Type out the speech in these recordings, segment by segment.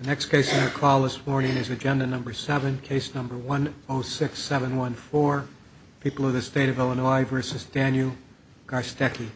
The next case on the call this morning is agenda number 7, case number 106714, People of the State of Illinois v. Daniel Garstecki.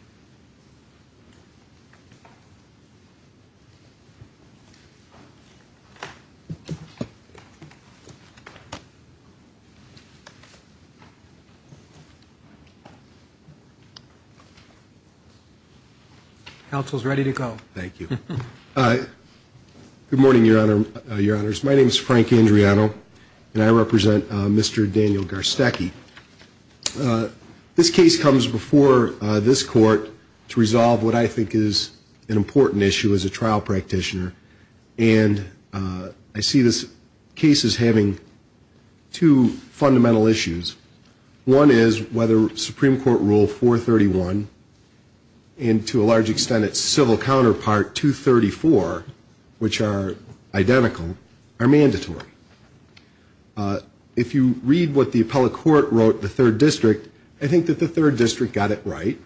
Good morning, Your Honors. My name is Frank Andriano, and I represent Mr. Daniel Garstecki. This case comes before this court to resolve what I think is an important issue as a trial practitioner, and I see this case as having two fundamental issues. One is whether Supreme Court Rule 431 and, to a large extent, its civil counterpart, 234, which are identical, are mandatory. If you read what the appellate court wrote in the third district, I think that the third district got it right.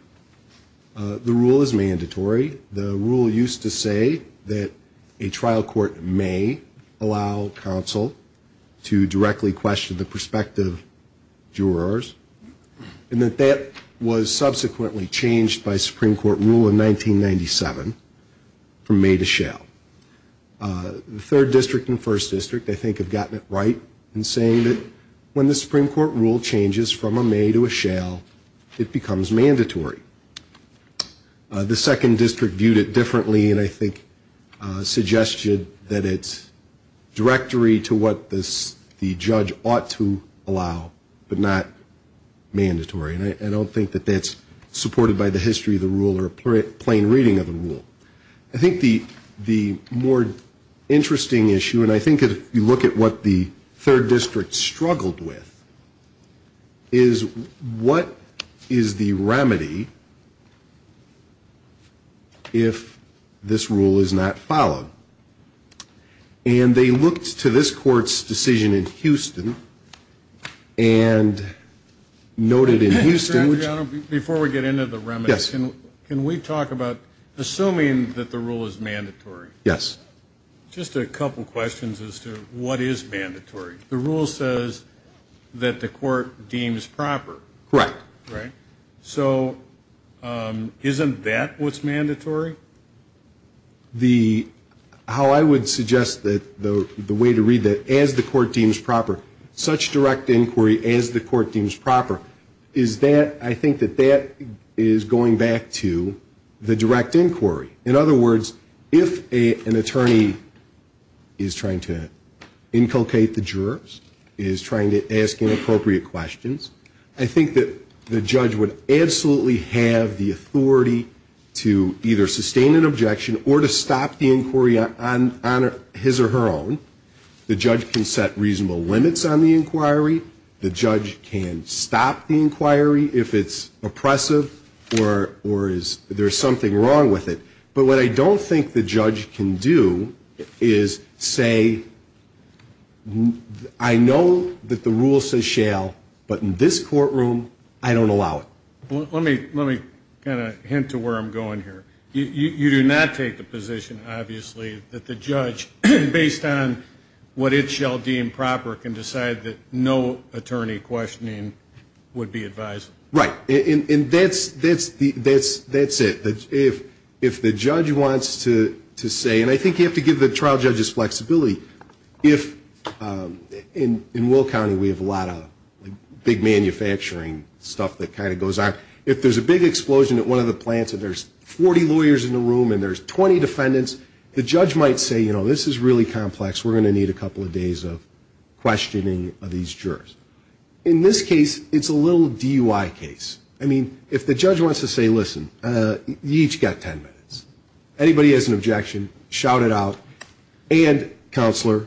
The rule is mandatory. The rule used to say that a trial court may allow counsel to directly question the prospective jurors, and that that was subsequently changed by Supreme Court rule in 1997 from may to shall. The third district and first district, I think, have gotten it right in saying that when the Supreme Court rule changes from a may to a shall, it becomes mandatory. The second district viewed it differently and, I think, suggested that it's directory to what the judge ought to allow but not mandatory, and I don't think that that's supported by the history of the rule or a plain reading of the rule. I think the more interesting issue, and I think if you look at what the third district struggled with, is what is the remedy if this rule is not followed? And they looked to this court's decision in Houston and noted in Houston which- You're saying that the rule is mandatory. Yes. Just a couple questions as to what is mandatory. The rule says that the court deems proper. Correct. Right? So isn't that what's mandatory? How I would suggest the way to read that, as the court deems proper, such direct inquiry as the court deems proper, is that I think that that is going back to the direct inquiry. In other words, if an attorney is trying to inculcate the jurors, is trying to ask inappropriate questions, I think that the judge would absolutely have the authority to either sustain an objection or to stop the inquiry on his or her own. The judge can set reasonable limits on the inquiry. The judge can stop the inquiry if it's oppressive or there's something wrong with it. But what I don't think the judge can do is say, I know that the rule says shall, but in this courtroom, I don't allow it. Let me kind of hint to where I'm going here. You do not take the position, obviously, that the judge, based on what it shall deem proper, can decide that no attorney questioning would be advised. Right. And that's it. If the judge wants to say, and I think you have to give the trial judges flexibility. In Will County, we have a lot of big manufacturing stuff that kind of goes on. If there's a big explosion at one of the plants and there's 40 lawyers in the room and there's 20 defendants, the judge might say, you know, this is really complex. We're going to need a couple of days of questioning of these jurors. In this case, it's a little DUI case. I mean, if the judge wants to say, listen, you each got ten minutes. Anybody has an objection, shout it out. And, counselor,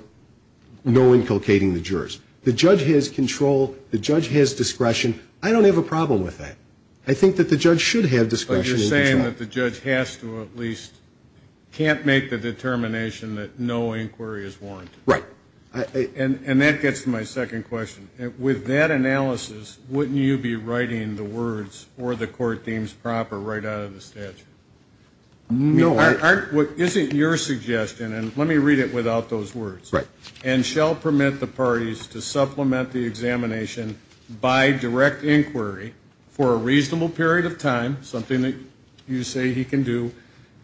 no inculcating the jurors. The judge has control. The judge has discretion. I don't have a problem with that. I think that the judge should have discretion. But you're saying that the judge has to at least can't make the determination that no inquiry is warranted. Right. And that gets to my second question. With that analysis, wouldn't you be writing the words, or the court deems proper, right out of the statute? No. Isn't your suggestion, and let me read it without those words. Right. And shall permit the parties to supplement the examination by direct inquiry for a reasonable period of time, something that you say he can do,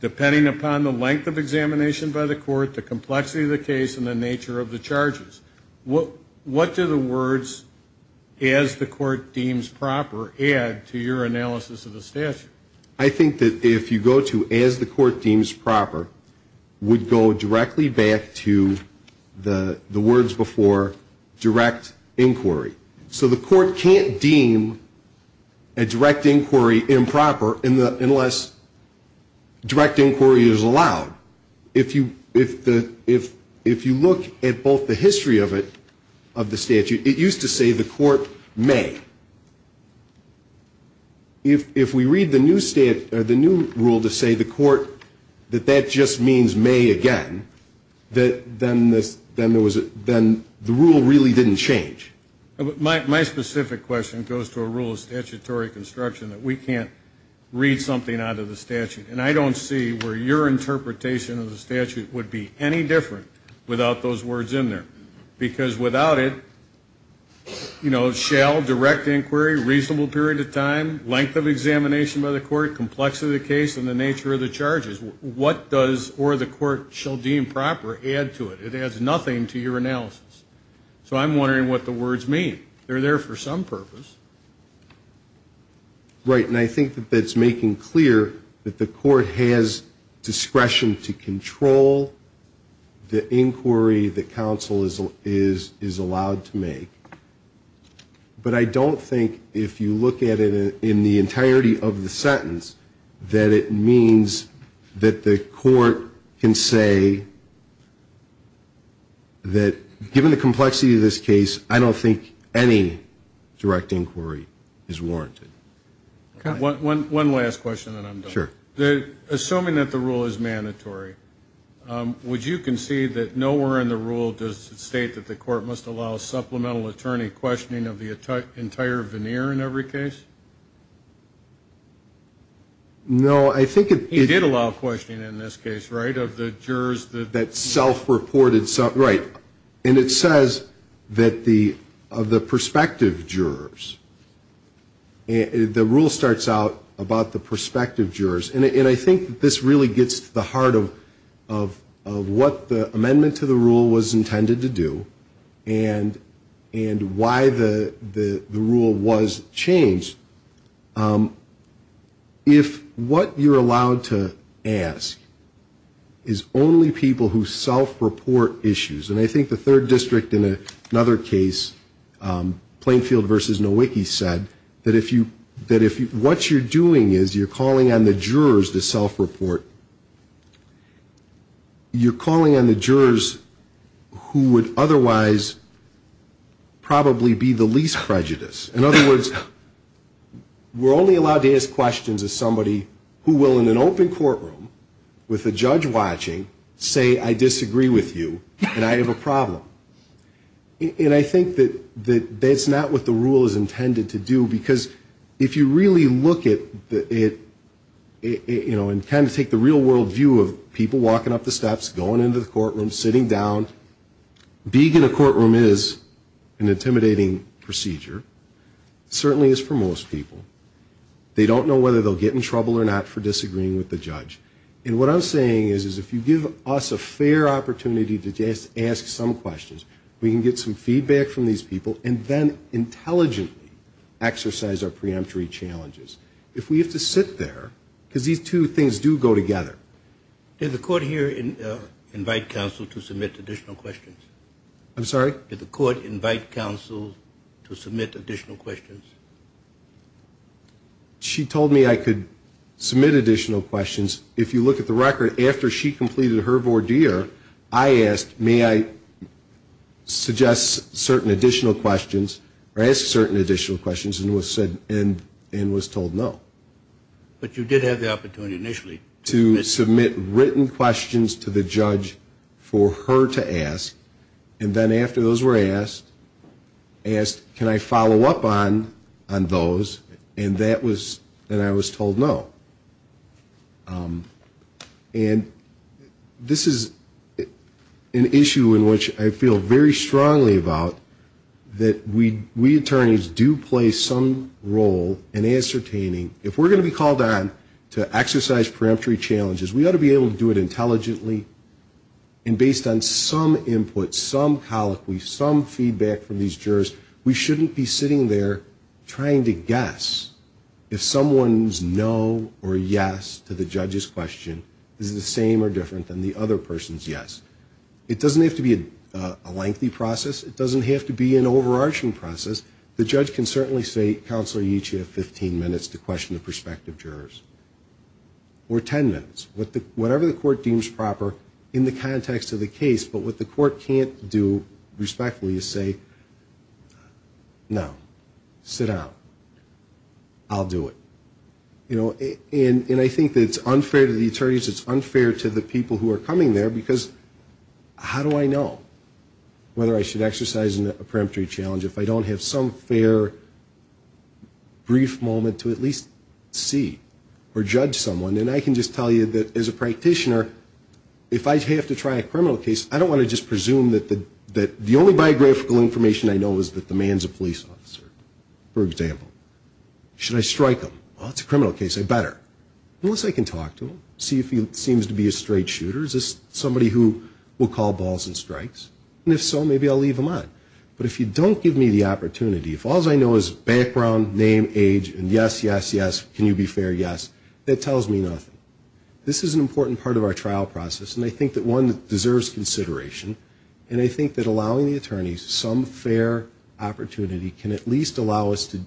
depending upon the length of examination by the court, the complexity of the case, and the nature of the charges. What do the words, as the court deems proper, add to your analysis of the statute? I think that if you go to, as the court deems proper, would go directly back to the words before, direct inquiry. So the court can't deem a direct inquiry improper unless direct inquiry is allowed. If you look at both the history of it, of the statute, it used to say the court may. If we read the new rule to say the court that that just means may again, then the rule really didn't change. My specific question goes to a rule of statutory construction that we can't read something out of the statute. And I don't see where your interpretation of the statute would be any different without those words in there. Because without it, you know, shall, direct inquiry, reasonable period of time, length of examination by the court, complexity of the case, and the nature of the charges. What does or the court shall deem proper add to it? It adds nothing to your analysis. So I'm wondering what the words mean. They're there for some purpose. Right, and I think that that's making clear that the court has discretion to control the inquiry that counsel is allowed to make. But I don't think if you look at it in the entirety of the sentence, that it means that the court can say that given the complexity of this case, I don't think any direct inquiry is warranted. One last question and then I'm done. Sure. Assuming that the rule is mandatory, would you concede that nowhere in the rule does it state that the court must allow supplemental attorney questioning of the entire veneer in every case? No, I think it. He did allow questioning in this case, right, of the jurors. That self-reported. Right. And it says that of the prospective jurors, the rule starts out about the prospective jurors. And I think this really gets to the heart of what the amendment to the rule was intended to do and why the rule was changed. If what you're allowed to ask is only people who self-report issues, and I think the third district in another case, Plainfield v. Nowicki said, that if what you're doing is you're calling on the jurors to self-report, you're calling on the jurors who would otherwise probably be the least prejudiced. In other words, we're only allowed to ask questions of somebody who will, in an open courtroom with a judge watching, say I disagree with you and I have a problem. And I think that that's not what the rule is intended to do, because if you really look at it, you know, and kind of take the real world view of people walking up the steps, going into the courtroom, sitting down, being in a courtroom is an intimidating procedure. It certainly is for most people. They don't know whether they'll get in trouble or not for disagreeing with the judge. And what I'm saying is if you give us a fair opportunity to just ask some questions, we can get some feedback from these people, and then intelligently exercise our preemptory challenges. If we have to sit there, because these two things do go together. Did the court here invite counsel to submit additional questions? I'm sorry? Did the court invite counsel to submit additional questions? She told me I could submit additional questions. If you look at the record, after she completed her voir dire, I asked may I suggest certain additional questions, or ask certain additional questions, and was told no. But you did have the opportunity initially. To submit written questions to the judge for her to ask, and then after those were asked, asked can I follow up on those, and I was told no. And this is an issue in which I feel very strongly about, that we attorneys do play some role in ascertaining, if we're going to be called on to exercise preemptory challenges, we ought to be able to do it intelligently, and based on some input, some colloquy, some feedback from these jurors, we shouldn't be sitting there trying to guess if someone's no or yes to the judge's question is the same or different than the other person's yes. It doesn't have to be a lengthy process. It doesn't have to be an overarching process. The judge can certainly say, counsel you each have 15 minutes to question the prospective jurors, or 10 minutes, whatever the court deems proper in the context of the case, but what the court can't do respectfully is say, no, sit down, I'll do it. And I think it's unfair to the attorneys, it's unfair to the people who are coming there, because how do I know whether I should exercise a preemptory challenge if I don't have some fair brief moment to at least see or judge someone? And I can just tell you that as a practitioner, if I have to try a criminal case, I don't want to just presume that the only biographical information I know is that the man's a police officer, for example. Should I strike him? Well, it's a criminal case, I better. Unless I can talk to him, see if he seems to be a straight shooter. Is this somebody who will call balls and strikes? And if so, maybe I'll leave him on. But if you don't give me the opportunity, if all I know is background, name, age, and yes, yes, yes, can you be fair, yes, that tells me nothing. This is an important part of our trial process, and I think that one that deserves consideration. And I think that allowing the attorneys some fair opportunity can at least allow us to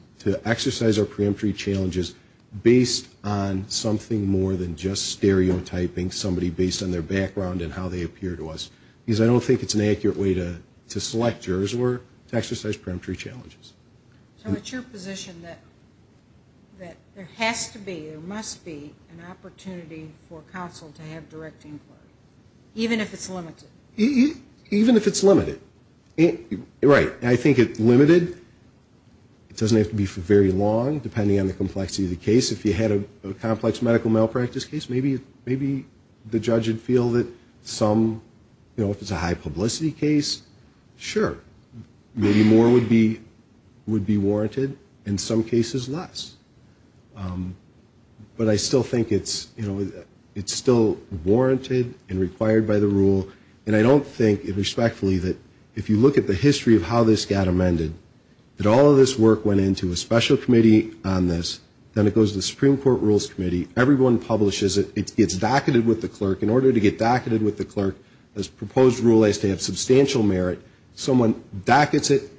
exercise our preemptory challenges based on something more than just stereotyping somebody based on their background and how they appear to us. Because I don't think it's an accurate way to select jurors or to exercise preemptory challenges. So it's your position that there has to be, there must be, an opportunity for counsel to have direct inquiry, even if it's limited? Even if it's limited, right. I think it's limited, it doesn't have to be for very long, depending on the complexity of the case. If you had a complex medical malpractice case, maybe the judge would feel that some, you know, if it's a high publicity case, sure. Maybe more would be warranted, in some cases less. But I still think it's, you know, it's still warranted and required by the rule, and I don't think, respectfully, that if you look at the history of how this got amended, that all of this work went into a special committee on this, then it goes to the Supreme Court Rules Committee. Everyone publishes it. It gets docketed with the clerk. In order to get docketed with the clerk, this proposed rule has to have substantial merit. Someone dockets it,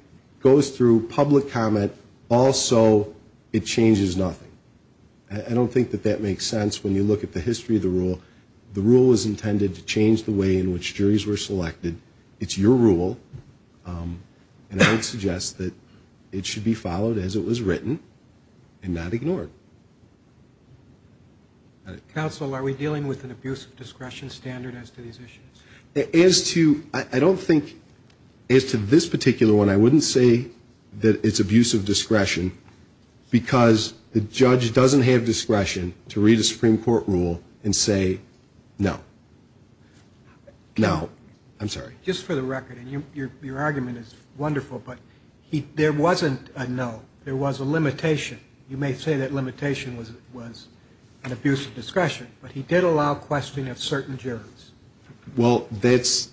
goes through public comment. Also, it changes nothing. I don't think that that makes sense when you look at the history of the rule. The rule was intended to change the way in which juries were selected. It's your rule. And I would suggest that it should be followed as it was written and not ignored. Counsel, are we dealing with an abuse of discretion standard as to these issues? As to, I don't think, as to this particular one, I wouldn't say that it's abuse of discretion because the judge doesn't have discretion to read a Supreme Court rule and say no. No. I'm sorry. Just for the record, and your argument is wonderful, but there wasn't a no. There was a limitation. You may say that limitation was an abuse of discretion, but he did allow questioning of certain jurors. Well, that's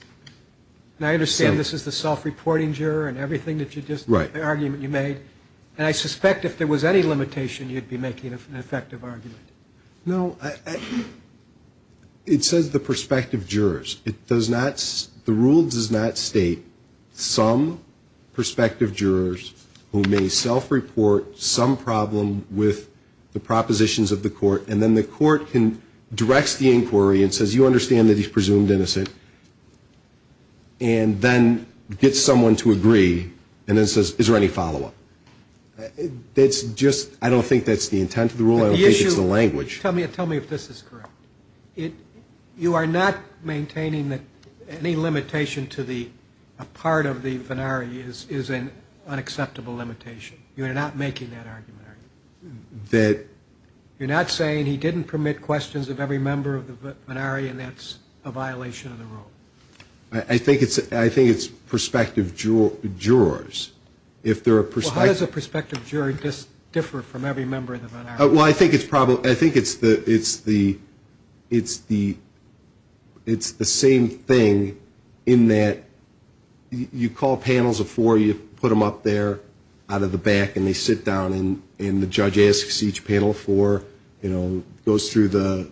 – And I understand this is the self-reporting juror and everything that you just – Right. The argument you made. And I suspect if there was any limitation, you'd be making an effective argument. No. It says the prospective jurors. It does not – the rule does not state some prospective jurors who may self-report some problem with the propositions of the court, and then the court can – directs the inquiry and says, you understand that he's presumed innocent, and then gets someone to agree and then says, is there any follow-up? That's just – I don't think that's the intent of the rule. I don't think it's the language. Tell me if this is correct. You are not maintaining that any limitation to the – a part of the venari is an unacceptable limitation. You are not making that argument, are you? That – You're not saying he didn't permit questions of every member of the venari and that's a violation of the rule? I think it's prospective jurors. If there are prospective – Well, how does a prospective juror differ from every member of the venari? Well, I think it's probably – I think it's the – it's the – it's the same thing in that you call panels of four, you put them up there out of the back, and they sit down, and the judge asks each panel four, you know, goes through the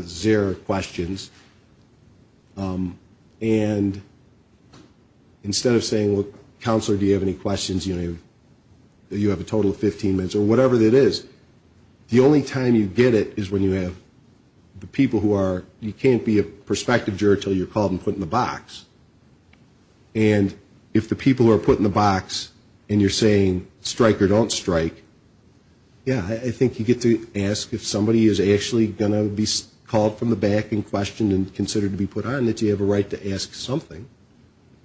zero questions, and instead of saying, well, counselor, do you have any questions, you have a total of 15 minutes, or whatever it is, the only time you get it is when you have the people who are – you can't be a prospective juror until you're called and put in the box. And if the people who are put in the box and you're saying strike or don't strike, yeah, I think you get to ask if somebody is actually going to be called from the back and questioned and considered to be put on, that you have a right to ask something.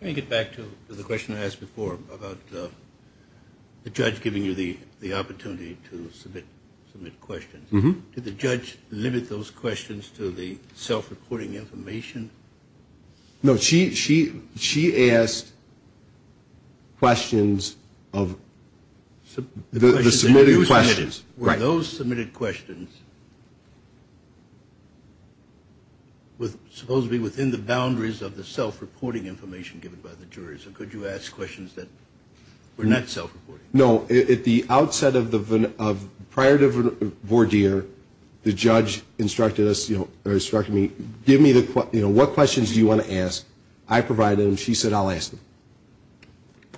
Let me get back to the question I asked before about the judge giving you the opportunity to submit questions. Did the judge limit those questions to the self-reporting information? No, she asked questions of – the submitted questions. Were those submitted questions supposedly within the boundaries of the self-reporting information given by the jurors, or could you ask questions that were not self-reporting? No. At the outset of the – prior to the voir dire, the judge instructed us, you know, or instructed me, give me the – you know, what questions do you want to ask? I provided them. She said I'll ask them.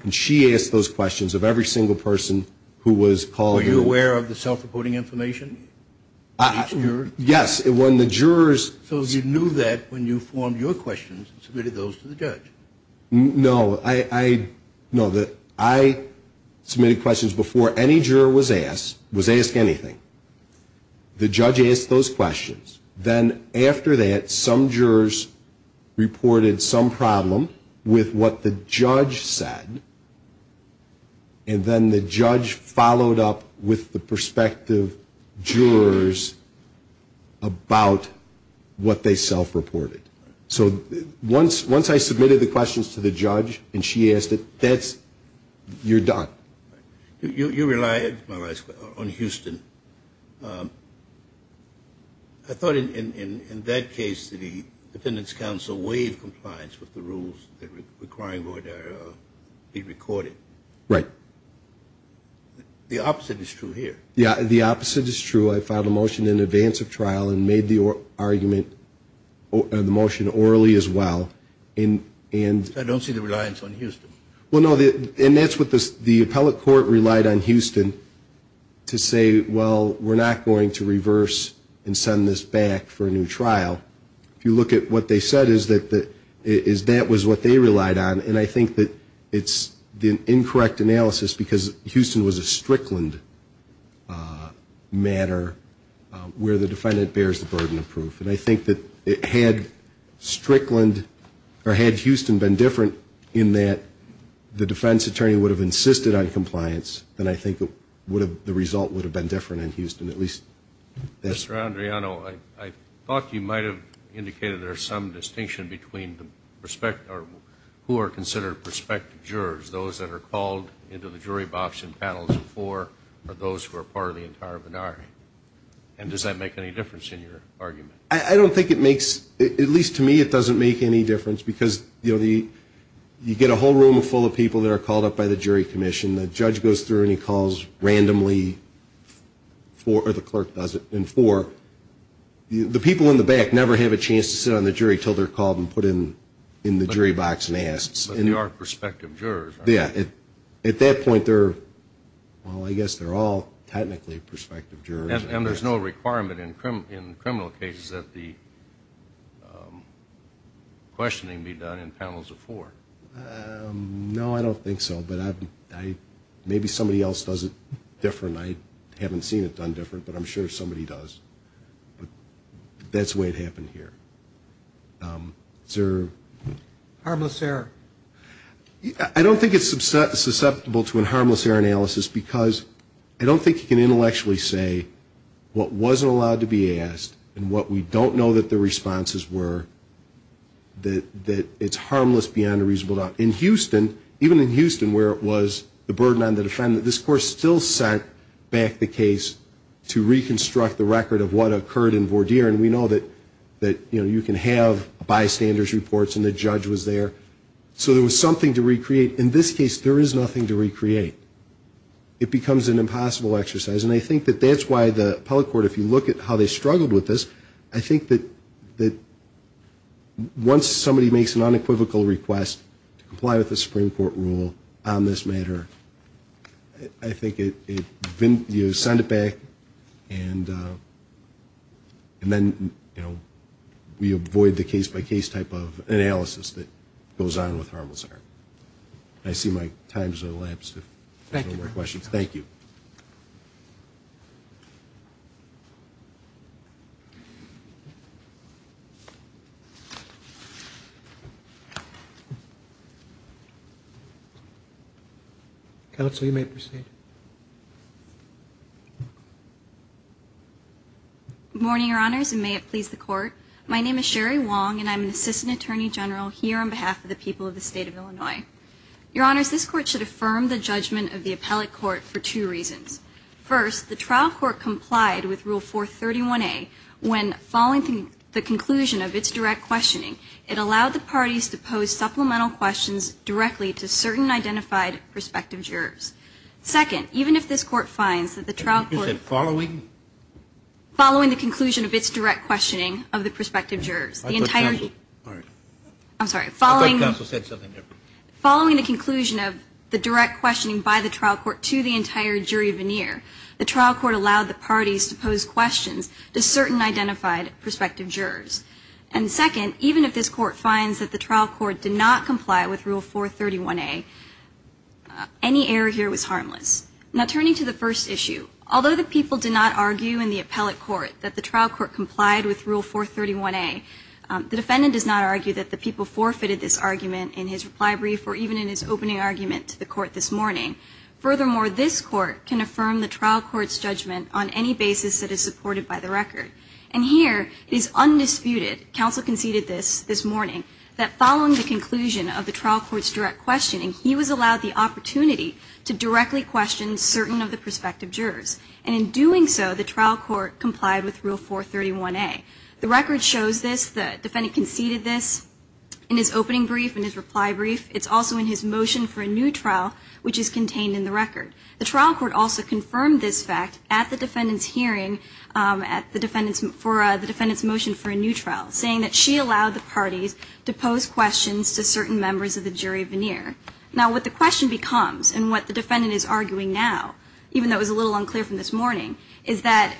And she asked those questions of every single person who was called. Were you aware of the self-reporting information? Yes. When the jurors – So you knew that when you formed your questions and submitted those to the judge? No. I – no, the – I submitted questions before any juror was asked, was asked anything. The judge asked those questions. Then after that, some jurors reported some problem with what the judge said, and then the judge followed up with the prospective jurors about what they self-reported. So once I submitted the questions to the judge and she asked it, that's – you're done. You relied, my last question, on Houston. I thought in that case that the defendants' counsel waived compliance with the rules requiring voir dire be recorded. Right. The opposite is true here. Yeah, the opposite is true. I filed a motion in advance of trial and made the argument – the motion orally as well. And – I don't see the reliance on Houston. Well, no, and that's what the appellate court relied on Houston to say, well, we're not going to reverse and send this back for a new trial. If you look at what they said is that that was what they relied on, and I think that it's the incorrect analysis because Houston was a Strickland matter where the defendant bears the burden of proof. And I think that had Strickland – or had Houston been different in that the defense attorney would have insisted on compliance, then I think the result would have been different in Houston. At least that's – Mr. Andriano, I thought you might have indicated there's some distinction between the – who are considered prospective jurors, those that are called into the jury box in panels of four or those who are part of the entire minority. And does that make any difference in your argument? I don't think it makes – at least to me it doesn't make any difference because, you know, you get a whole room full of people that are called up by the jury commission. The judge goes through and he calls randomly four – or the clerk does it in four. The people in the back never have a chance to sit on the jury until they're called and put in the jury box and asked. But they are prospective jurors, right? Yeah. At that point they're – well, I guess they're all technically prospective jurors. And there's no requirement in criminal cases that the questioning be done in panels of four. No, I don't think so. But maybe somebody else does it different. I haven't seen it done different, but I'm sure somebody does. But that's the way it happened here. Sir? Harmless error. I don't think it's susceptible to a harmless error analysis because I don't think you can intellectually say what wasn't allowed to be asked and what we don't know that the responses were, that it's harmless beyond a reasonable doubt. In Houston, even in Houston where it was the burden on the defendant, this court still sent back the case to reconstruct the record of what occurred in Vordeer. And we know that you can have bystanders' reports and the judge was there. So there was something to recreate. In this case, there is nothing to recreate. It becomes an impossible exercise. And I think that that's why the appellate court, if you look at how they struggled with this, I think that once somebody makes an unequivocal request to comply with the Supreme Court rule on this matter, I think you send it back and then we avoid the case-by-case type of analysis that goes on with harmless error. I see my time has elapsed if there are no more questions. Thank you. Counsel, you may proceed. Good morning, Your Honors, and may it please the Court. My name is Sherry Wong and I'm an Assistant Attorney General here on behalf of the people of the State of Illinois. Your Honors, this Court should affirm the judgment of the appellate court for two reasons. First, the trial court complied with Rule 431A when following the conclusion of its direct questioning. It allowed the parties to pose supplemental questions directly to certain identified prospective jurors. Second, even if this Court finds that the trial court- You said following? Following the conclusion of its direct questioning of the prospective jurors. I thought counsel- I'm sorry, following- I thought counsel said something there. Following the conclusion of the direct questioning by the trial court to the entire jury veneer, the trial court allowed the parties to pose questions to certain identified prospective jurors. And second, even if this Court finds that the trial court did not comply with Rule 431A, any error here was harmless. Now turning to the first issue, although the people did not argue in the appellate court that the trial court complied with Rule 431A, the defendant does not argue that the people forfeited this argument in his reply brief or even in his opening argument to the Court this morning. Furthermore, this Court can affirm the trial court's judgment on any basis that is supported by the record. And here it is undisputed- counsel conceded this this morning- that following the conclusion of the trial court's direct questioning, he was allowed the opportunity to directly question certain of the prospective jurors. And in doing so, the trial court complied with Rule 431A. The record shows this. The defendant conceded this in his opening brief, in his reply brief. It's also in his motion for a new trial, which is contained in the record. The trial court also confirmed this fact at the defendant's hearing, at the defendant's motion for a new trial, saying that she allowed the parties to pose questions to certain members of the jury veneer. Now what the question becomes, and what the defendant is arguing now, even though it was a little unclear from this morning, is that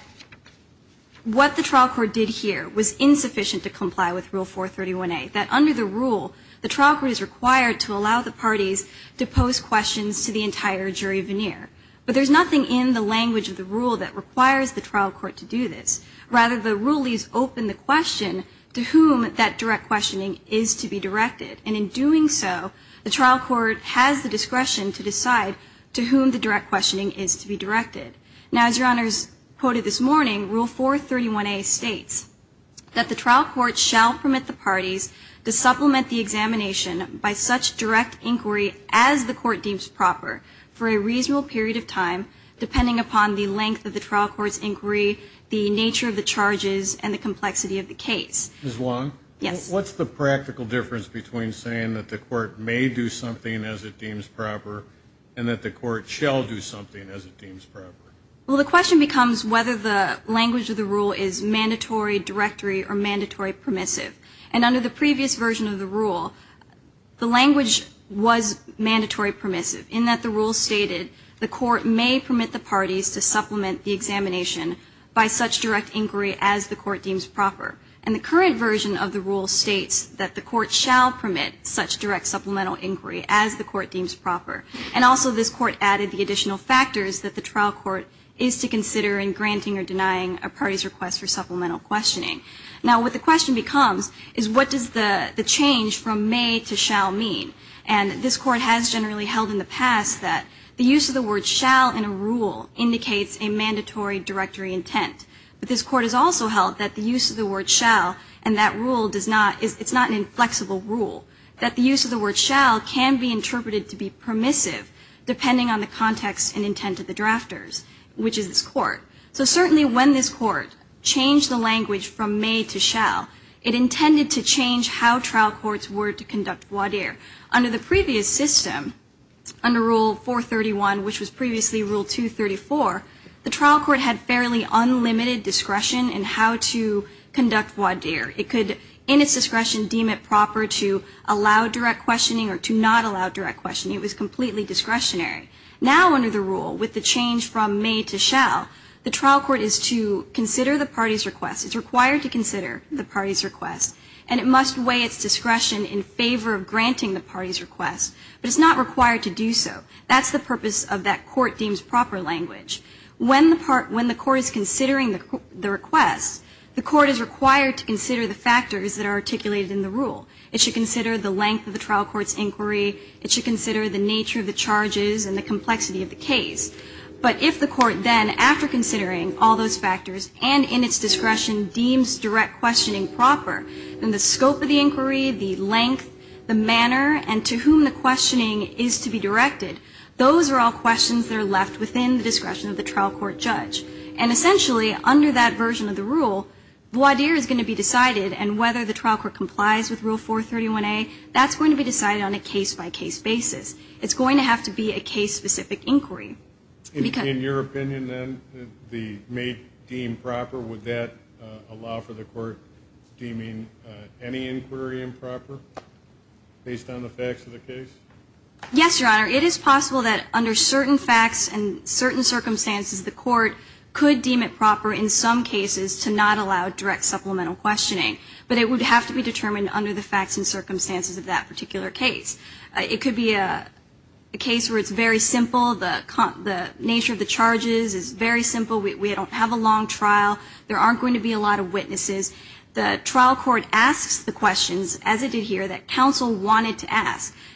what the trial court did here was insufficient to comply with Rule 431A, that under the rule, the trial court is required to allow the parties to pose questions to the entire jury veneer. But there's nothing in the language of the rule that requires the trial court to do this. Rather, the rule leaves open the question to whom that direct questioning is to be directed. And in doing so, the trial court has the discretion to decide to whom the direct questioning is to be directed. Now, as Your Honors quoted this morning, Rule 431A states that the trial court shall permit the parties to supplement the examination by such direct inquiry as the court deems proper for a reasonable period of time, depending upon the length of the trial court's inquiry, the nature of the charges, and the complexity of the case. Ms. Long? Yes. What's the practical difference between saying that the court may do something as it deems proper and that the court shall do something as it deems proper? Well, the question becomes whether the language of the rule is mandatory, directory, or mandatory permissive. And under the previous version of the rule, the language was mandatory permissive in that the rule stated the court may permit the parties to supplement the examination by such direct inquiry as the court deems proper. And the current version of the rule states that the court shall permit such direct supplemental inquiry as the court deems proper. And also this court added the additional factors that the trial court is to consider in granting or denying a party's request for supplemental questioning. Now, what the question becomes is what does the change from may to shall mean? And this court has generally held in the past that the use of the word shall in a rule indicates a mandatory directory intent. But this court has also held that the use of the word shall and that rule does not, it's not an inflexible rule. That the use of the word shall can be interpreted to be permissive depending on the context and intent of the drafters, which is this court. So certainly when this court changed the language from may to shall, it intended to change how trial courts were to conduct voir dire. Under the previous system, under Rule 431, which was previously Rule 234, the trial court had fairly unlimited discretion in how to conduct voir dire. It could, in its discretion, deem it proper to allow direct questioning or to not allow direct questioning. It was completely discretionary. Now under the rule, with the change from may to shall, the trial court is to consider the party's request. It's required to consider the party's request, and it must weigh its discretion in favor of granting the party's request. But it's not required to do so. That's the purpose of that court deems proper language. When the court is considering the request, the court is required to consider the factors that are articulated in the rule. It should consider the length of the trial court's inquiry. It should consider the nature of the charges and the complexity of the case. But if the court then, after considering all those factors and in its discretion, deems direct questioning proper, then the scope of the inquiry, the length, the manner, and to whom the questioning is to be directed, those are all questions that are left within the discretion of the trial court judge. And essentially, under that version of the rule, the idea is going to be decided and whether the trial court complies with Rule 431A, that's going to be decided on a case-by-case basis. It's going to have to be a case-specific inquiry. In your opinion, then, the may deem proper, would that allow for the court deeming any inquiry improper based on the facts of the case? Yes, Your Honor. It is possible that under certain facts and certain circumstances, the court could deem it proper in some cases to not allow direct supplemental questioning, but it would have to be determined under the facts and circumstances of that particular case. It could be a case where it's very simple. The nature of the charges is very simple. We don't have a long trial. There aren't going to be a lot of witnesses.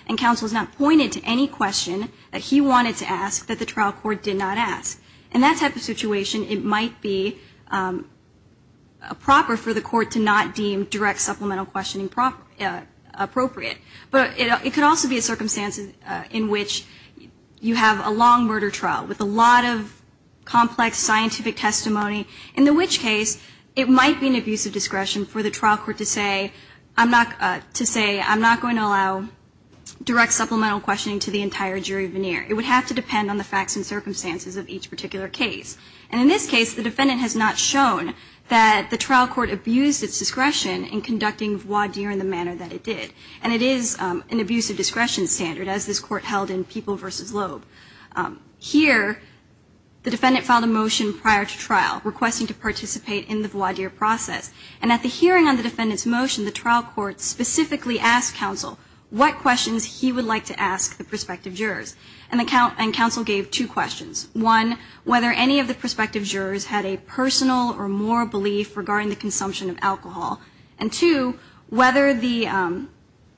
And counsel has not pointed to any question that he wanted to ask that the trial court did not ask. In that type of situation, it might be proper for the court to not deem direct supplemental questioning appropriate. But it could also be a circumstance in which you have a long murder trial with a lot of complex scientific testimony, in the which case it might be an abuse of discretion for the trial court to say, I'm not going to allow direct supplemental questioning to the entire jury veneer. It would have to depend on the facts and circumstances of each particular case. And in this case, the defendant has not shown that the trial court abused its discretion in conducting voir dire in the manner that it did. And it is an abuse of discretion standard, as this court held in People v. Loeb. Here, the defendant filed a motion prior to trial requesting to participate in the voir dire process. And at the hearing on the defendant's motion, the trial court specifically asked counsel what questions he would like to ask the prospective jurors. And counsel gave two questions. One, whether any of the prospective jurors had a personal or moral belief regarding the consumption of alcohol. And two, whether the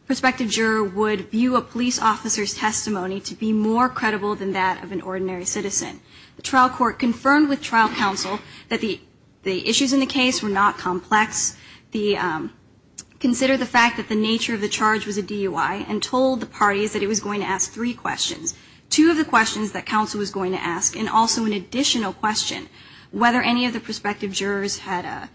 prospective juror would view a police officer's testimony to be more credible than that of an ordinary citizen. The trial court confirmed with trial counsel that the issues in the case were not complex. Consider the fact that the nature of the charge was a DUI and told the parties that it was going to ask three questions. Two of the questions that counsel was going to ask, and also an additional question, whether any of the prospective jurors had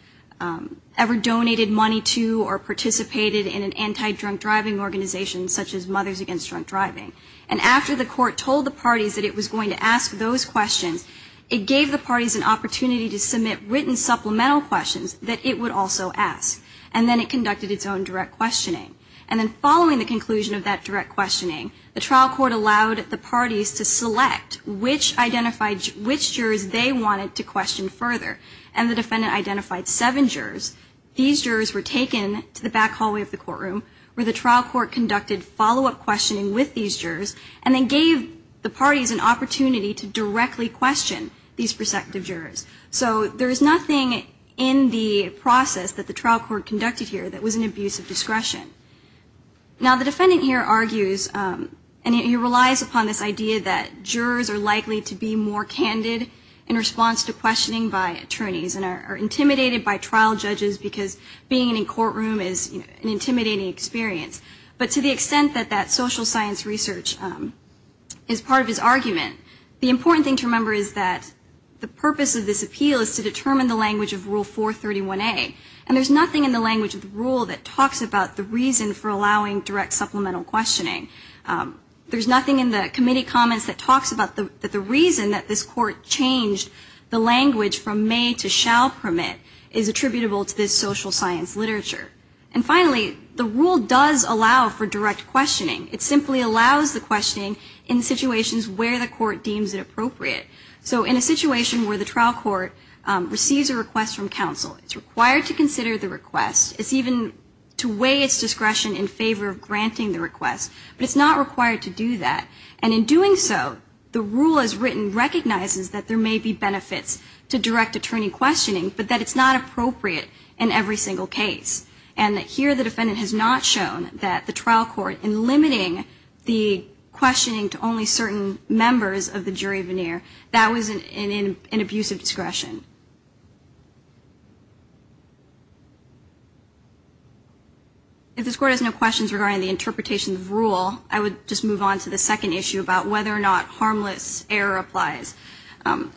ever donated money to or participated in an anti-drunk driving organization, such as Mothers Against Drunk Driving. And after the court told the parties that it was going to ask those questions, it gave the parties an opportunity to submit written supplemental questions that it would also ask. And then it conducted its own direct questioning. And then following the conclusion of that direct questioning, the trial court allowed the parties to select which jurors they wanted to question further. And the defendant identified seven jurors. These jurors were taken to the back hallway of the courtroom where the trial court conducted follow-up questioning with these jurors. And they gave the parties an opportunity to directly question these prospective jurors. So there is nothing in the process that the trial court conducted here that was an abuse of discretion. Now, the defendant here argues, and he relies upon this idea that jurors are likely to be more candid in response to questioning by attorneys and are intimidated by trial judges because being in a courtroom is an intimidating experience. But to the extent that that social science research is part of his argument, the important thing to remember is that the purpose of this appeal is to determine the language of Rule 431A. And there's nothing in the language of the rule that talks about the reason for allowing direct supplemental questioning. There's nothing in the committee comments that talks about the reason that this court changed the language from may to shall permit is attributable to this social science literature. And finally, the rule does allow for direct questioning. It simply allows the questioning in situations where the court deems it appropriate. So in a situation where the trial court receives a request from counsel, it's required to consider the request. It's even to weigh its discretion in favor of granting the request. But it's not required to do that. And in doing so, the rule as written recognizes that there may be benefits to direct attorney questioning, but that it's not appropriate in every single case. And here the defendant has not shown that the trial court, in limiting the questioning to only certain members of the jury veneer, that was an abusive discretion. If this court has no questions regarding the interpretation of the rule, I would just move on to the second issue about whether or not harmless error applies.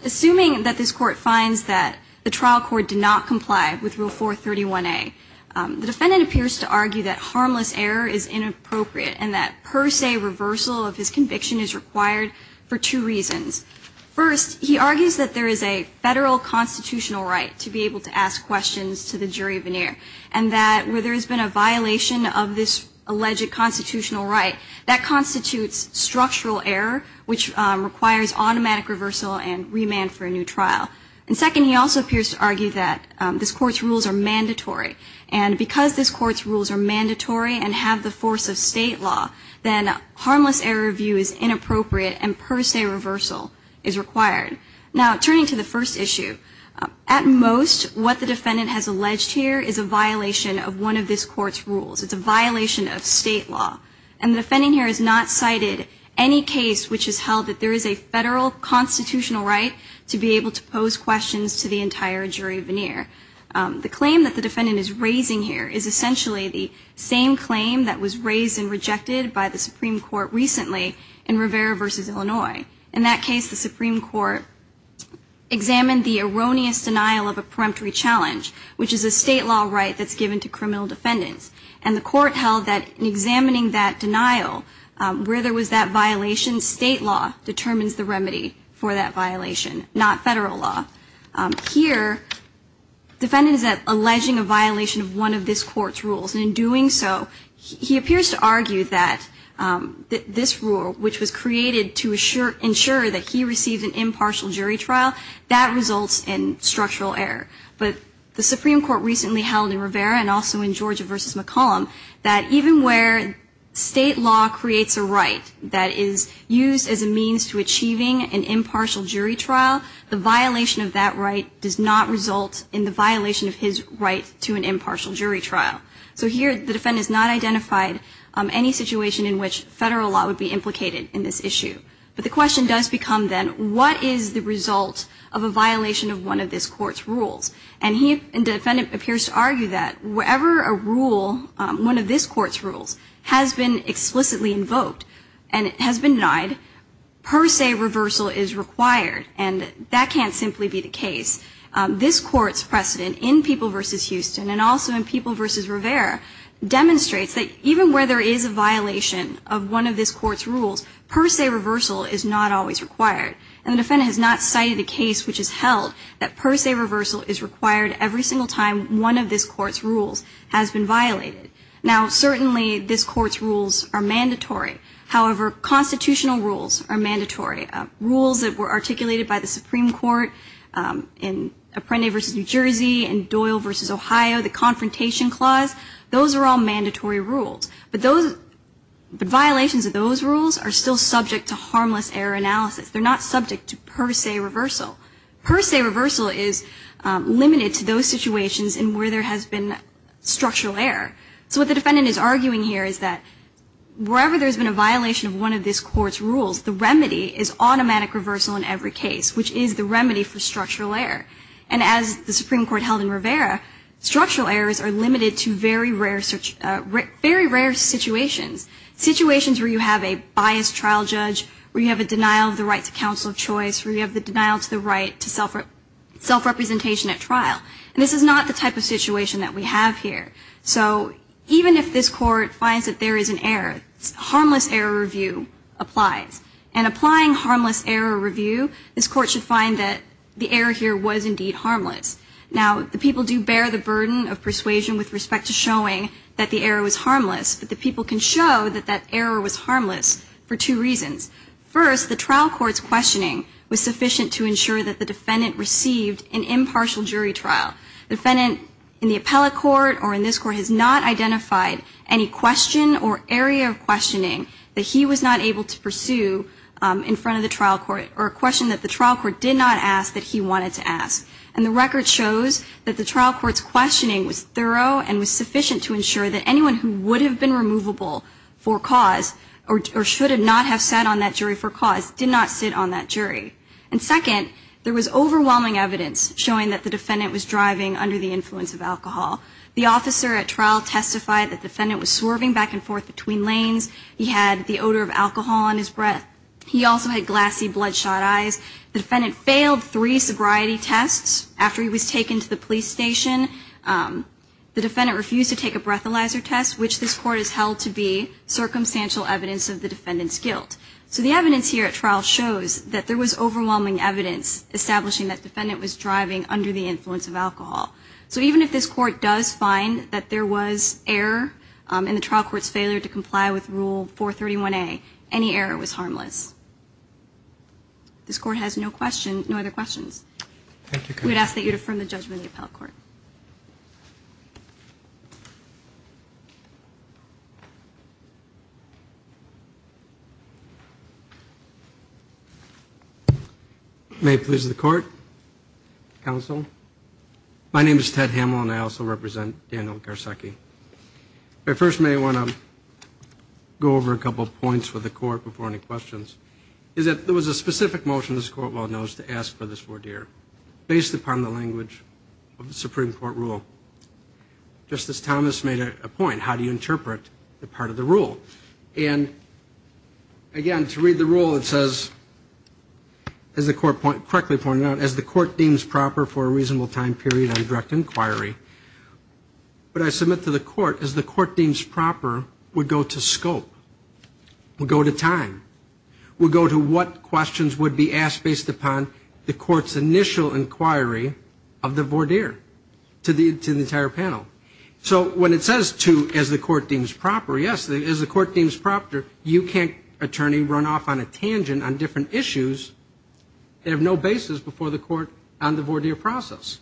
Assuming that this court finds that the trial court did not comply with Rule 431A, the defendant appears to argue that harmless error is inappropriate and that per se reversal of his conviction is required for two reasons. First, he argues that there is a federal constitutional right to be able to ask questions to the jury veneer and that where there has been a violation of this alleged constitutional right, that constitutes structural error, which requires automatic reversal and remand for a new trial. And second, he also appears to argue that this court's rules are mandatory. And because this court's rules are mandatory and have the force of state law, then harmless error view is inappropriate and per se reversal is required. Now, turning to the first issue, at most, what the defendant has alleged here is a violation of one of this court's rules. It's a violation of state law. And the defendant here has not cited any case which has held that there is a violation of state law. does this court have the right to ask those questions to the entire jury veneer? The claim that the defendant is raising here is essentially the same claim that was raised and rejected by the Supreme Court recently in Rivera v. Illinois. In that case, the Supreme Court examined the erroneous denial of a preemptory challenge, which is a state law right that's given to criminal defendants. And the court held that in examining that denial, where there was that violation, state law determines the remedy for that violation, not federal law. Here, the defendant is alleging a violation of one of this court's rules. And in doing so, he appears to argue that this rule, which was created to ensure that he received an impartial jury trial, that results in structural error. But the Supreme Court recently held in Rivera and also in Georgia v. McCollum, that even where state law creates a right that is used as a means to achieving an impartial jury trial, the violation of that right does not result in the violation of his right to an impartial jury trial. So here, the defendant has not identified any situation in which federal law would be implicated in this issue. But the question does become then, what is the result of a violation of one of this court's rules? And the defendant appears to argue that whatever a rule, one of this court's rules, has been explicitly invoked and has been denied, per se reversal is required. And that can't simply be the case. This court's precedent in People v. Houston and also in People v. Rivera demonstrates that even where there is a violation of one of this court's rules, per se reversal is not always required. And the defendant has not cited a case which has held that per se reversal is required every single time one of this court's rules has been violated. Now, certainly this court's rules are mandatory. However, constitutional rules are mandatory. Rules that were articulated by the Supreme Court in Apprendi v. New Jersey and Doyle v. Ohio, the Confrontation Clause, those are all mandatory rules. But violations of those rules are still subject to harmless error analysis. They're not subject to per se reversal. Per se reversal is limited to those situations in where there has been structural error. So what the defendant is arguing here is that wherever there's been a violation of one of this court's rules, the remedy is automatic reversal in every case, which is the remedy for structural error. And as the Supreme Court held in Rivera, structural errors are limited to very rare situations, situations where you have a biased trial judge, where you have a denial of the right to counsel of choice, where you have the denial to the right to self-representation at trial. And this is not the type of situation that we have here. So even if this court finds that there is an error, harmless error review applies. And applying harmless error review, this court should find that the error here was indeed harmless. Now, the people do bear the burden of persuasion with respect to showing that the error was harmless. But the people can show that that error was harmless for two reasons. First, the trial court's questioning was sufficient to ensure that the defendant received an impartial jury trial. The defendant in the appellate court or in this court has not identified any question or area of questioning that he was not able to pursue in front of the trial court, or a question that the trial court did not ask that he wanted to ask. And the record shows that the trial court's questioning was thorough and was The question was whether the defendant should have been removable for cause, or should not have sat on that jury for cause, did not sit on that jury. And second, there was overwhelming evidence showing that the defendant was driving under the influence of alcohol. The officer at trial testified that the defendant was swerving back and forth between lanes. He had the odor of alcohol on his breath. He also had glassy bloodshot eyes. The defendant failed three sobriety tests after he was taken to the police station. The defendant refused to take a breathalyzer test, which this court has held to be circumstantial evidence of the defendant's guilt. So the evidence here at trial shows that there was overwhelming evidence establishing that defendant was driving under the influence of alcohol. So even if this court does find that there was error in the trial court's failure to comply with rule 431A, any error was harmless. This court has no other questions. We'd ask that you affirm the judgment in the appellate court. May it please the court, counsel. My name is Ted Hamel, and I also represent Daniel Garcecki. I first may want to go over a couple of points with the court before any questions. There was a specific motion, this court well knows, to ask for this voir dire, based upon the language of the Supreme Court rule. Justice Thomas made a point, how do you interpret the part of the rule? And, again, to read the rule, it says, as the court correctly pointed out, as the court deems proper for a reasonable time period on direct inquiry, what I submit to the court is the court deems proper would go to scope, would go to time, would go to what questions would be asked based upon the court's initial inquiry of the voir dire to the entire panel. So when it says to, as the court deems proper, yes, as the court deems proper, you can't, attorney, run off on a tangent on different issues that have no basis before the court on the voir dire process.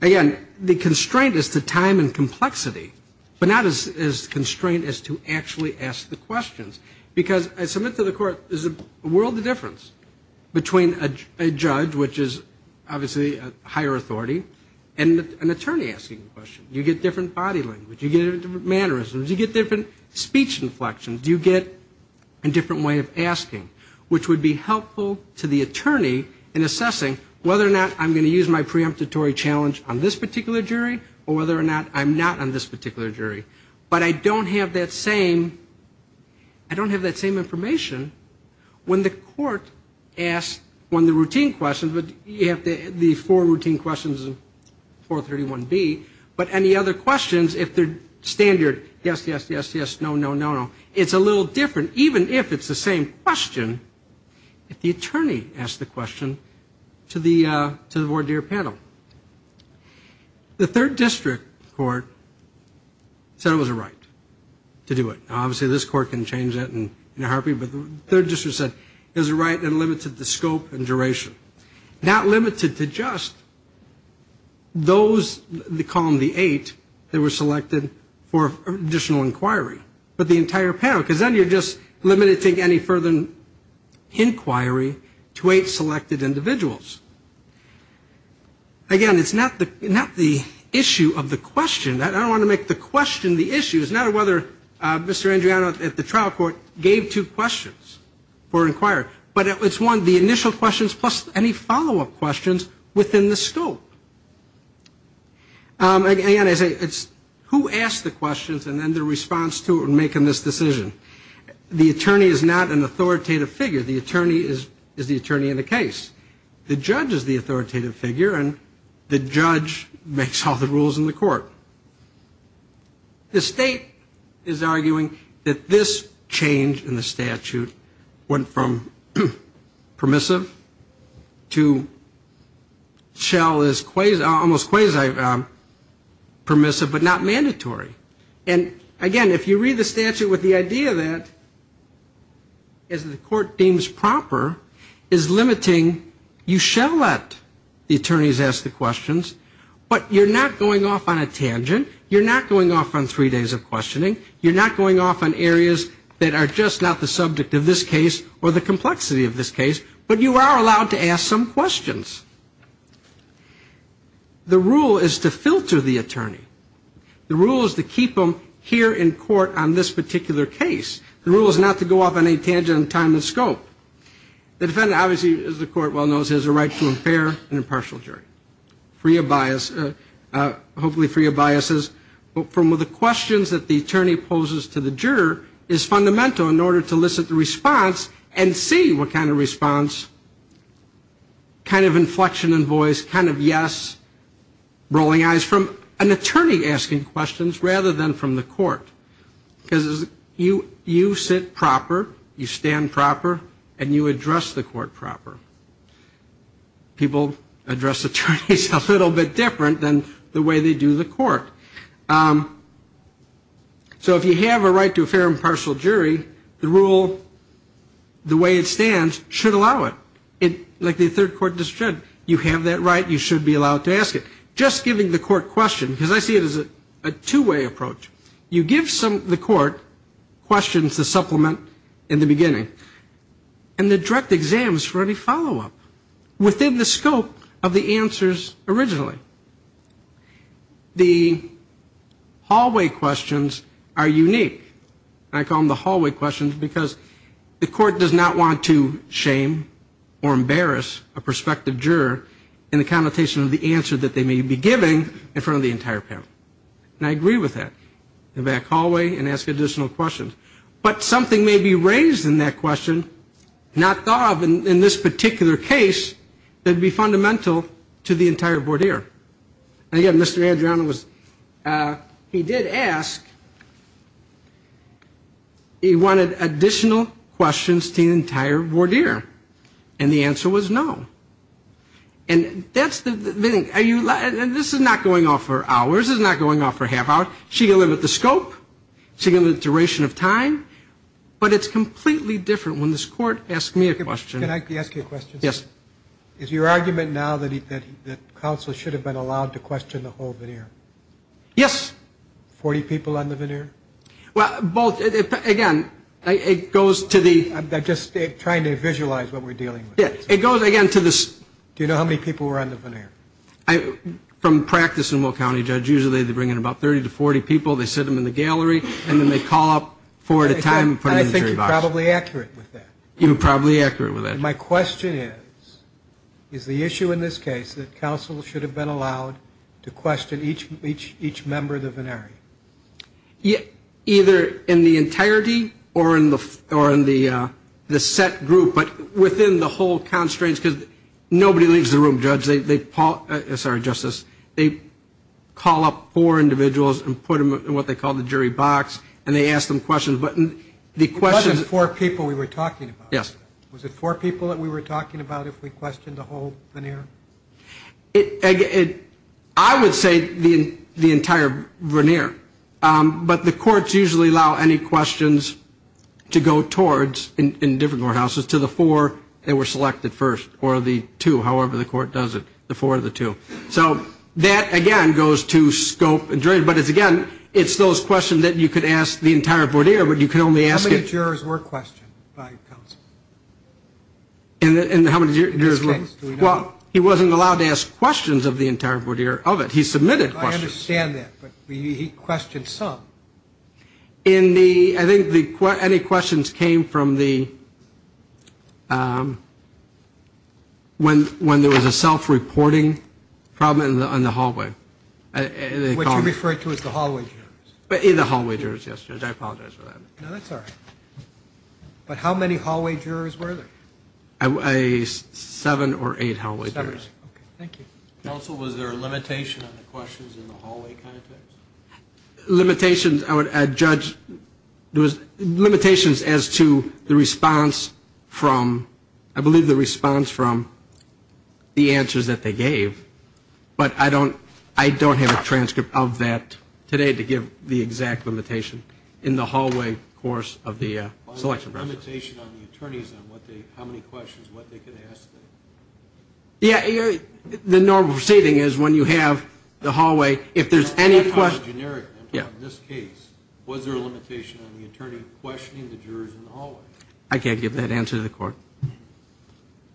Again, the constraint is to time and complexity, but not as constrained as to actually ask the questions, because I submit to the court there's a world of difference between a judge, which is obviously a higher authority, and an attorney asking the question. You get different body language, you get different mannerisms, you get different speech inflections, you get a different way of asking, which would be helpful to the attorney in assessing whether or not I'm going to use my preemptory challenge on this particular jury or whether or not I'm not on this particular jury. But I don't have that same information when the court asks one of the routine questions, but you have the four routine questions of 431B, but any other questions, if they're standard, yes, yes, yes, yes, no, no, no, no, it's a little different, even if it's the same question, if the attorney asks the question to the voir dire panel. The third district court said it was a right to do it. Now, obviously, this court can change that in a heartbeat, but the third district said it was a right and limited the scope and duration. Not limited to just those, the column, the eight, that were selected for additional inquiry, but the entire panel, because then you're just limiting any further inquiry to eight selected individuals. Again, it's not the issue of the question. I don't want to make the question the issue. It's not whether Mr. Andreano at the trial court gave two questions for inquiry, but it's one, the initial questions plus any follow-up questions within the scope. Again, I say it's who asked the questions and then the response to it when making this decision. The attorney is not an authoritative figure. The attorney is the attorney in the case. The judge is the authoritative figure and the judge makes all the rules in the court. The state is arguing that this change in the statute went from permissive to almost quasi-permissive, but not mandatory. And, again, if you read the statute with the idea that, as the court deems proper, is limiting, you shall let the attorneys ask the questions, but you're not going off on a tangent, you're not going off on three days of questioning, you're not going off on areas that are just not the subject of this case or the complexity of this case, but you are allowed to ask some questions. The rule is to filter the attorney. The rule is to keep them here in court on this particular case. The rule is not to go off on any tangent in time and scope. The defendant obviously, as the court well knows, has a right to a fair and impartial jury, free of bias, hopefully free of biases, but from the questions that the attorney poses to the juror is fundamental in order to elicit the response and see what kind of response, kind of inflection in voice, kind of yes, rolling eyes from an attorney asking questions rather than from the court. Because you sit proper, you stand proper, and you address the court proper. People address attorneys a little bit different than the way they do the court. So if you have a right to a fair and impartial jury, the rule, the way it stands, should allow it. Like the third court just said, you have that right, you should be allowed to ask it. Just giving the court questions, because I see it as a two-way approach. You give the court questions to supplement in the beginning, and the direct exam is for any follow-up, within the scope of the answers originally. The hallway questions are unique. I call them the hallway questions because the court does not want to shame or embarrass a prospective juror in the connotation of the answer that they may be giving in front of the entire panel. And I agree with that. Go back hallway and ask additional questions. But something may be raised in that question, not thought of in this particular case, that would be fundamental to the entire voir dire. And again, Mr. Adriano was, he did ask, he wanted additional questions to the entire voir dire. And the answer was no. And this is not going off for hours, it's not going off for a half hour. She can limit the scope, she can limit the duration of time, but it's completely different when this court asks me a question. Can I ask you a question? Yes. Is your argument now that counsel should have been allowed to question the whole voir dire? Yes. 40 people on the voir dire? Well, both, again, it goes to the... I'm just trying to visualize what we're dealing with. Do you know how many people were on the voir dire? From practice in Will County, Judge, usually they bring in about 30 to 40 people, they sit them in the gallery, and then they call up four at a time and put them in the jury box. I think you're probably accurate with that. My question is, is the issue in this case that counsel should have been allowed to question each member of the voir dire? Either in the entirety or in the set group, but within the whole constraints, because nobody leaves the room, Judge. Sorry, Justice. They call up four individuals and put them in what they call the jury box, and they ask them questions. It wasn't four people we were talking about. Yes. Was it four people that we were talking about if we questioned the whole voir dire? I would say the entire voir dire, but the courts usually allow any questions to go towards, in different courthouses, to the four that were selected first, or the two, however the court does it, the four or the two. So that, again, goes to scope and duration. But, again, it's those questions that you could ask the entire voir dire, but you can only ask it. How many jurors were questioned by counsel? Well, he wasn't allowed to ask questions of the entire voir dire of it. He submitted questions. I understand that, but he questioned some. I think any questions came from the, when there was a self-reporting problem in the hallway. What you referred to as the hallway jurors? The hallway jurors, yes, Judge. I apologize for that. No, that's all right. But how many hallway jurors were there? Seven or eight hallway jurors. Thank you. Counsel, was there a limitation on the questions in the hallway context? Limitations as to the response from, I believe the response from the answers that they gave, but I don't have a transcript of that today to give the exact limitation in the hallway course of the selection process. How many questions, what they could ask? The normal proceeding is when you have the hallway, if there's any question. Was there a limitation on the attorney questioning the jurors in the hallway? I can't give that answer to the court.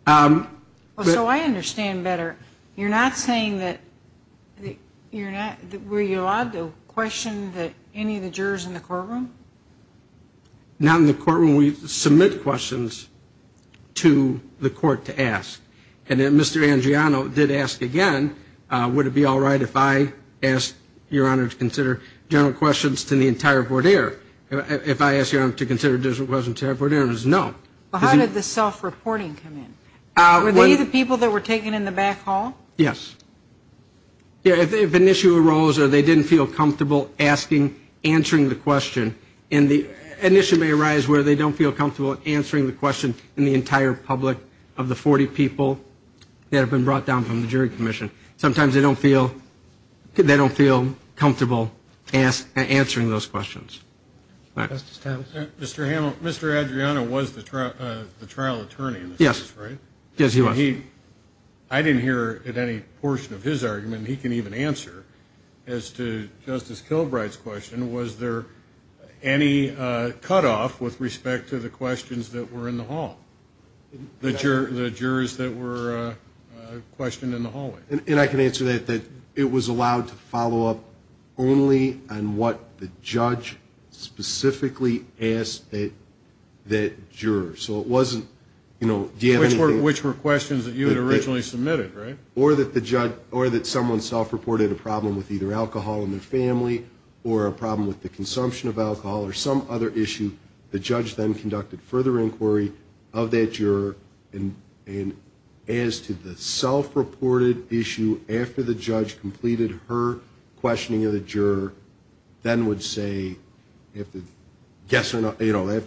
So I understand better. You're not saying that you're not, were you allowed to question any of the jurors in the courtroom? Not in the courtroom. We submit questions to the court to ask. And then Mr. Angiano did ask again, would it be all right if I asked Your Honor to consider general questions to the entire borderer? If I asked Your Honor to consider general questions to the entire borderer, it was no. How did the self-reporting come in? Were they the people that were taken in the back hall? Yes. If an issue arose or they didn't feel comfortable asking, answering the question, an issue may arise where they don't feel comfortable answering the question in the entire public of the 40 people that have been brought down from the jury commission. Sometimes they don't feel comfortable answering those questions. Mr. Adriano was the trial attorney in this case, right? Yes, he was. I didn't hear any portion of his argument he can even answer as to Justice Kilbright's question. Was there any cutoff with respect to the questions that were in the hall, the jurors that were questioned in the hallway? And I can answer that, that it was allowed to follow up only on what the judge specifically asked that juror. Which were questions that you had originally submitted, right? Or that someone self-reported a problem with either alcohol in their family or a problem with the consumption of alcohol or some other issue. The judge then conducted further inquiry of that juror. And as to the self-reported issue after the judge completed her questioning of the juror, then would say, after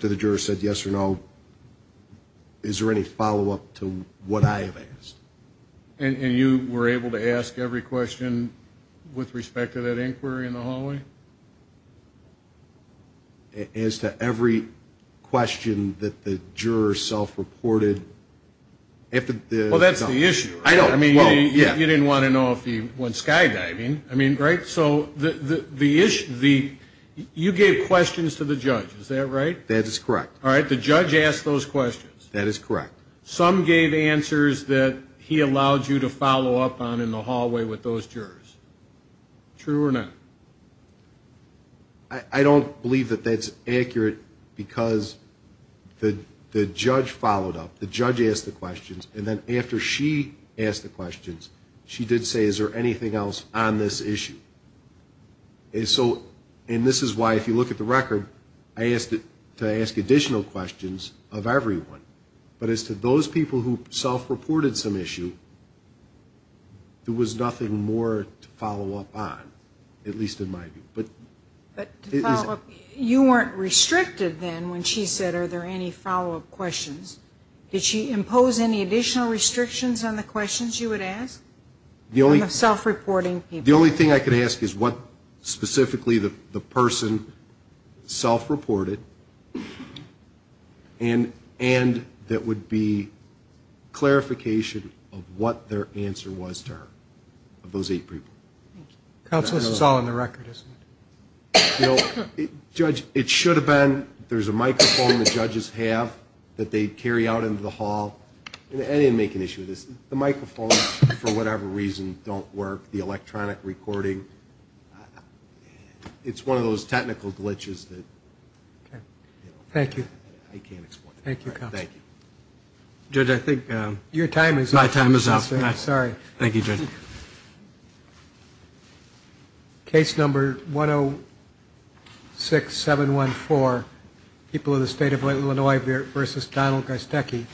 the juror said yes or no, is there any follow-up to what I have asked? And you were able to ask every question with respect to that inquiry in the hallway? As to every question that the juror self-reported. Well, that's the issue. You didn't want to know if he went skydiving. I mean, right, so the issue, you gave questions to the judge, is that right? That is correct. All right, the judge asked those questions. That is correct. Some gave answers that he allowed you to follow up on in the hallway with those jurors. True or not? I don't believe that that's accurate, because the judge followed up. The judge asked the questions, and then after she asked the questions, she did say, is there anything else on this issue? And this is why, if you look at the record, I asked it to ask additional questions of everyone. But as to those people who self-reported some issue, there was nothing more to follow up on, at least in my view. But to follow up, you weren't restricted then when she said, are there any follow-up questions? Did she impose any additional restrictions on the questions you would ask? The only thing I could ask is what specifically the person self-reported, and that would be clarification of what their answer was to her, of those eight people. Counsel, this is all in the record, isn't it? It should have been. There's a microphone the judges have that they carry out into the hall. I didn't make an issue of this. The microphone, for whatever reason, don't work. The electronic recording, it's one of those technical glitches that I can't explain. Thank you. Your time is up. Thank you, Judge. Case number 106714, people of the state of Illinois versus Donald Garstecki.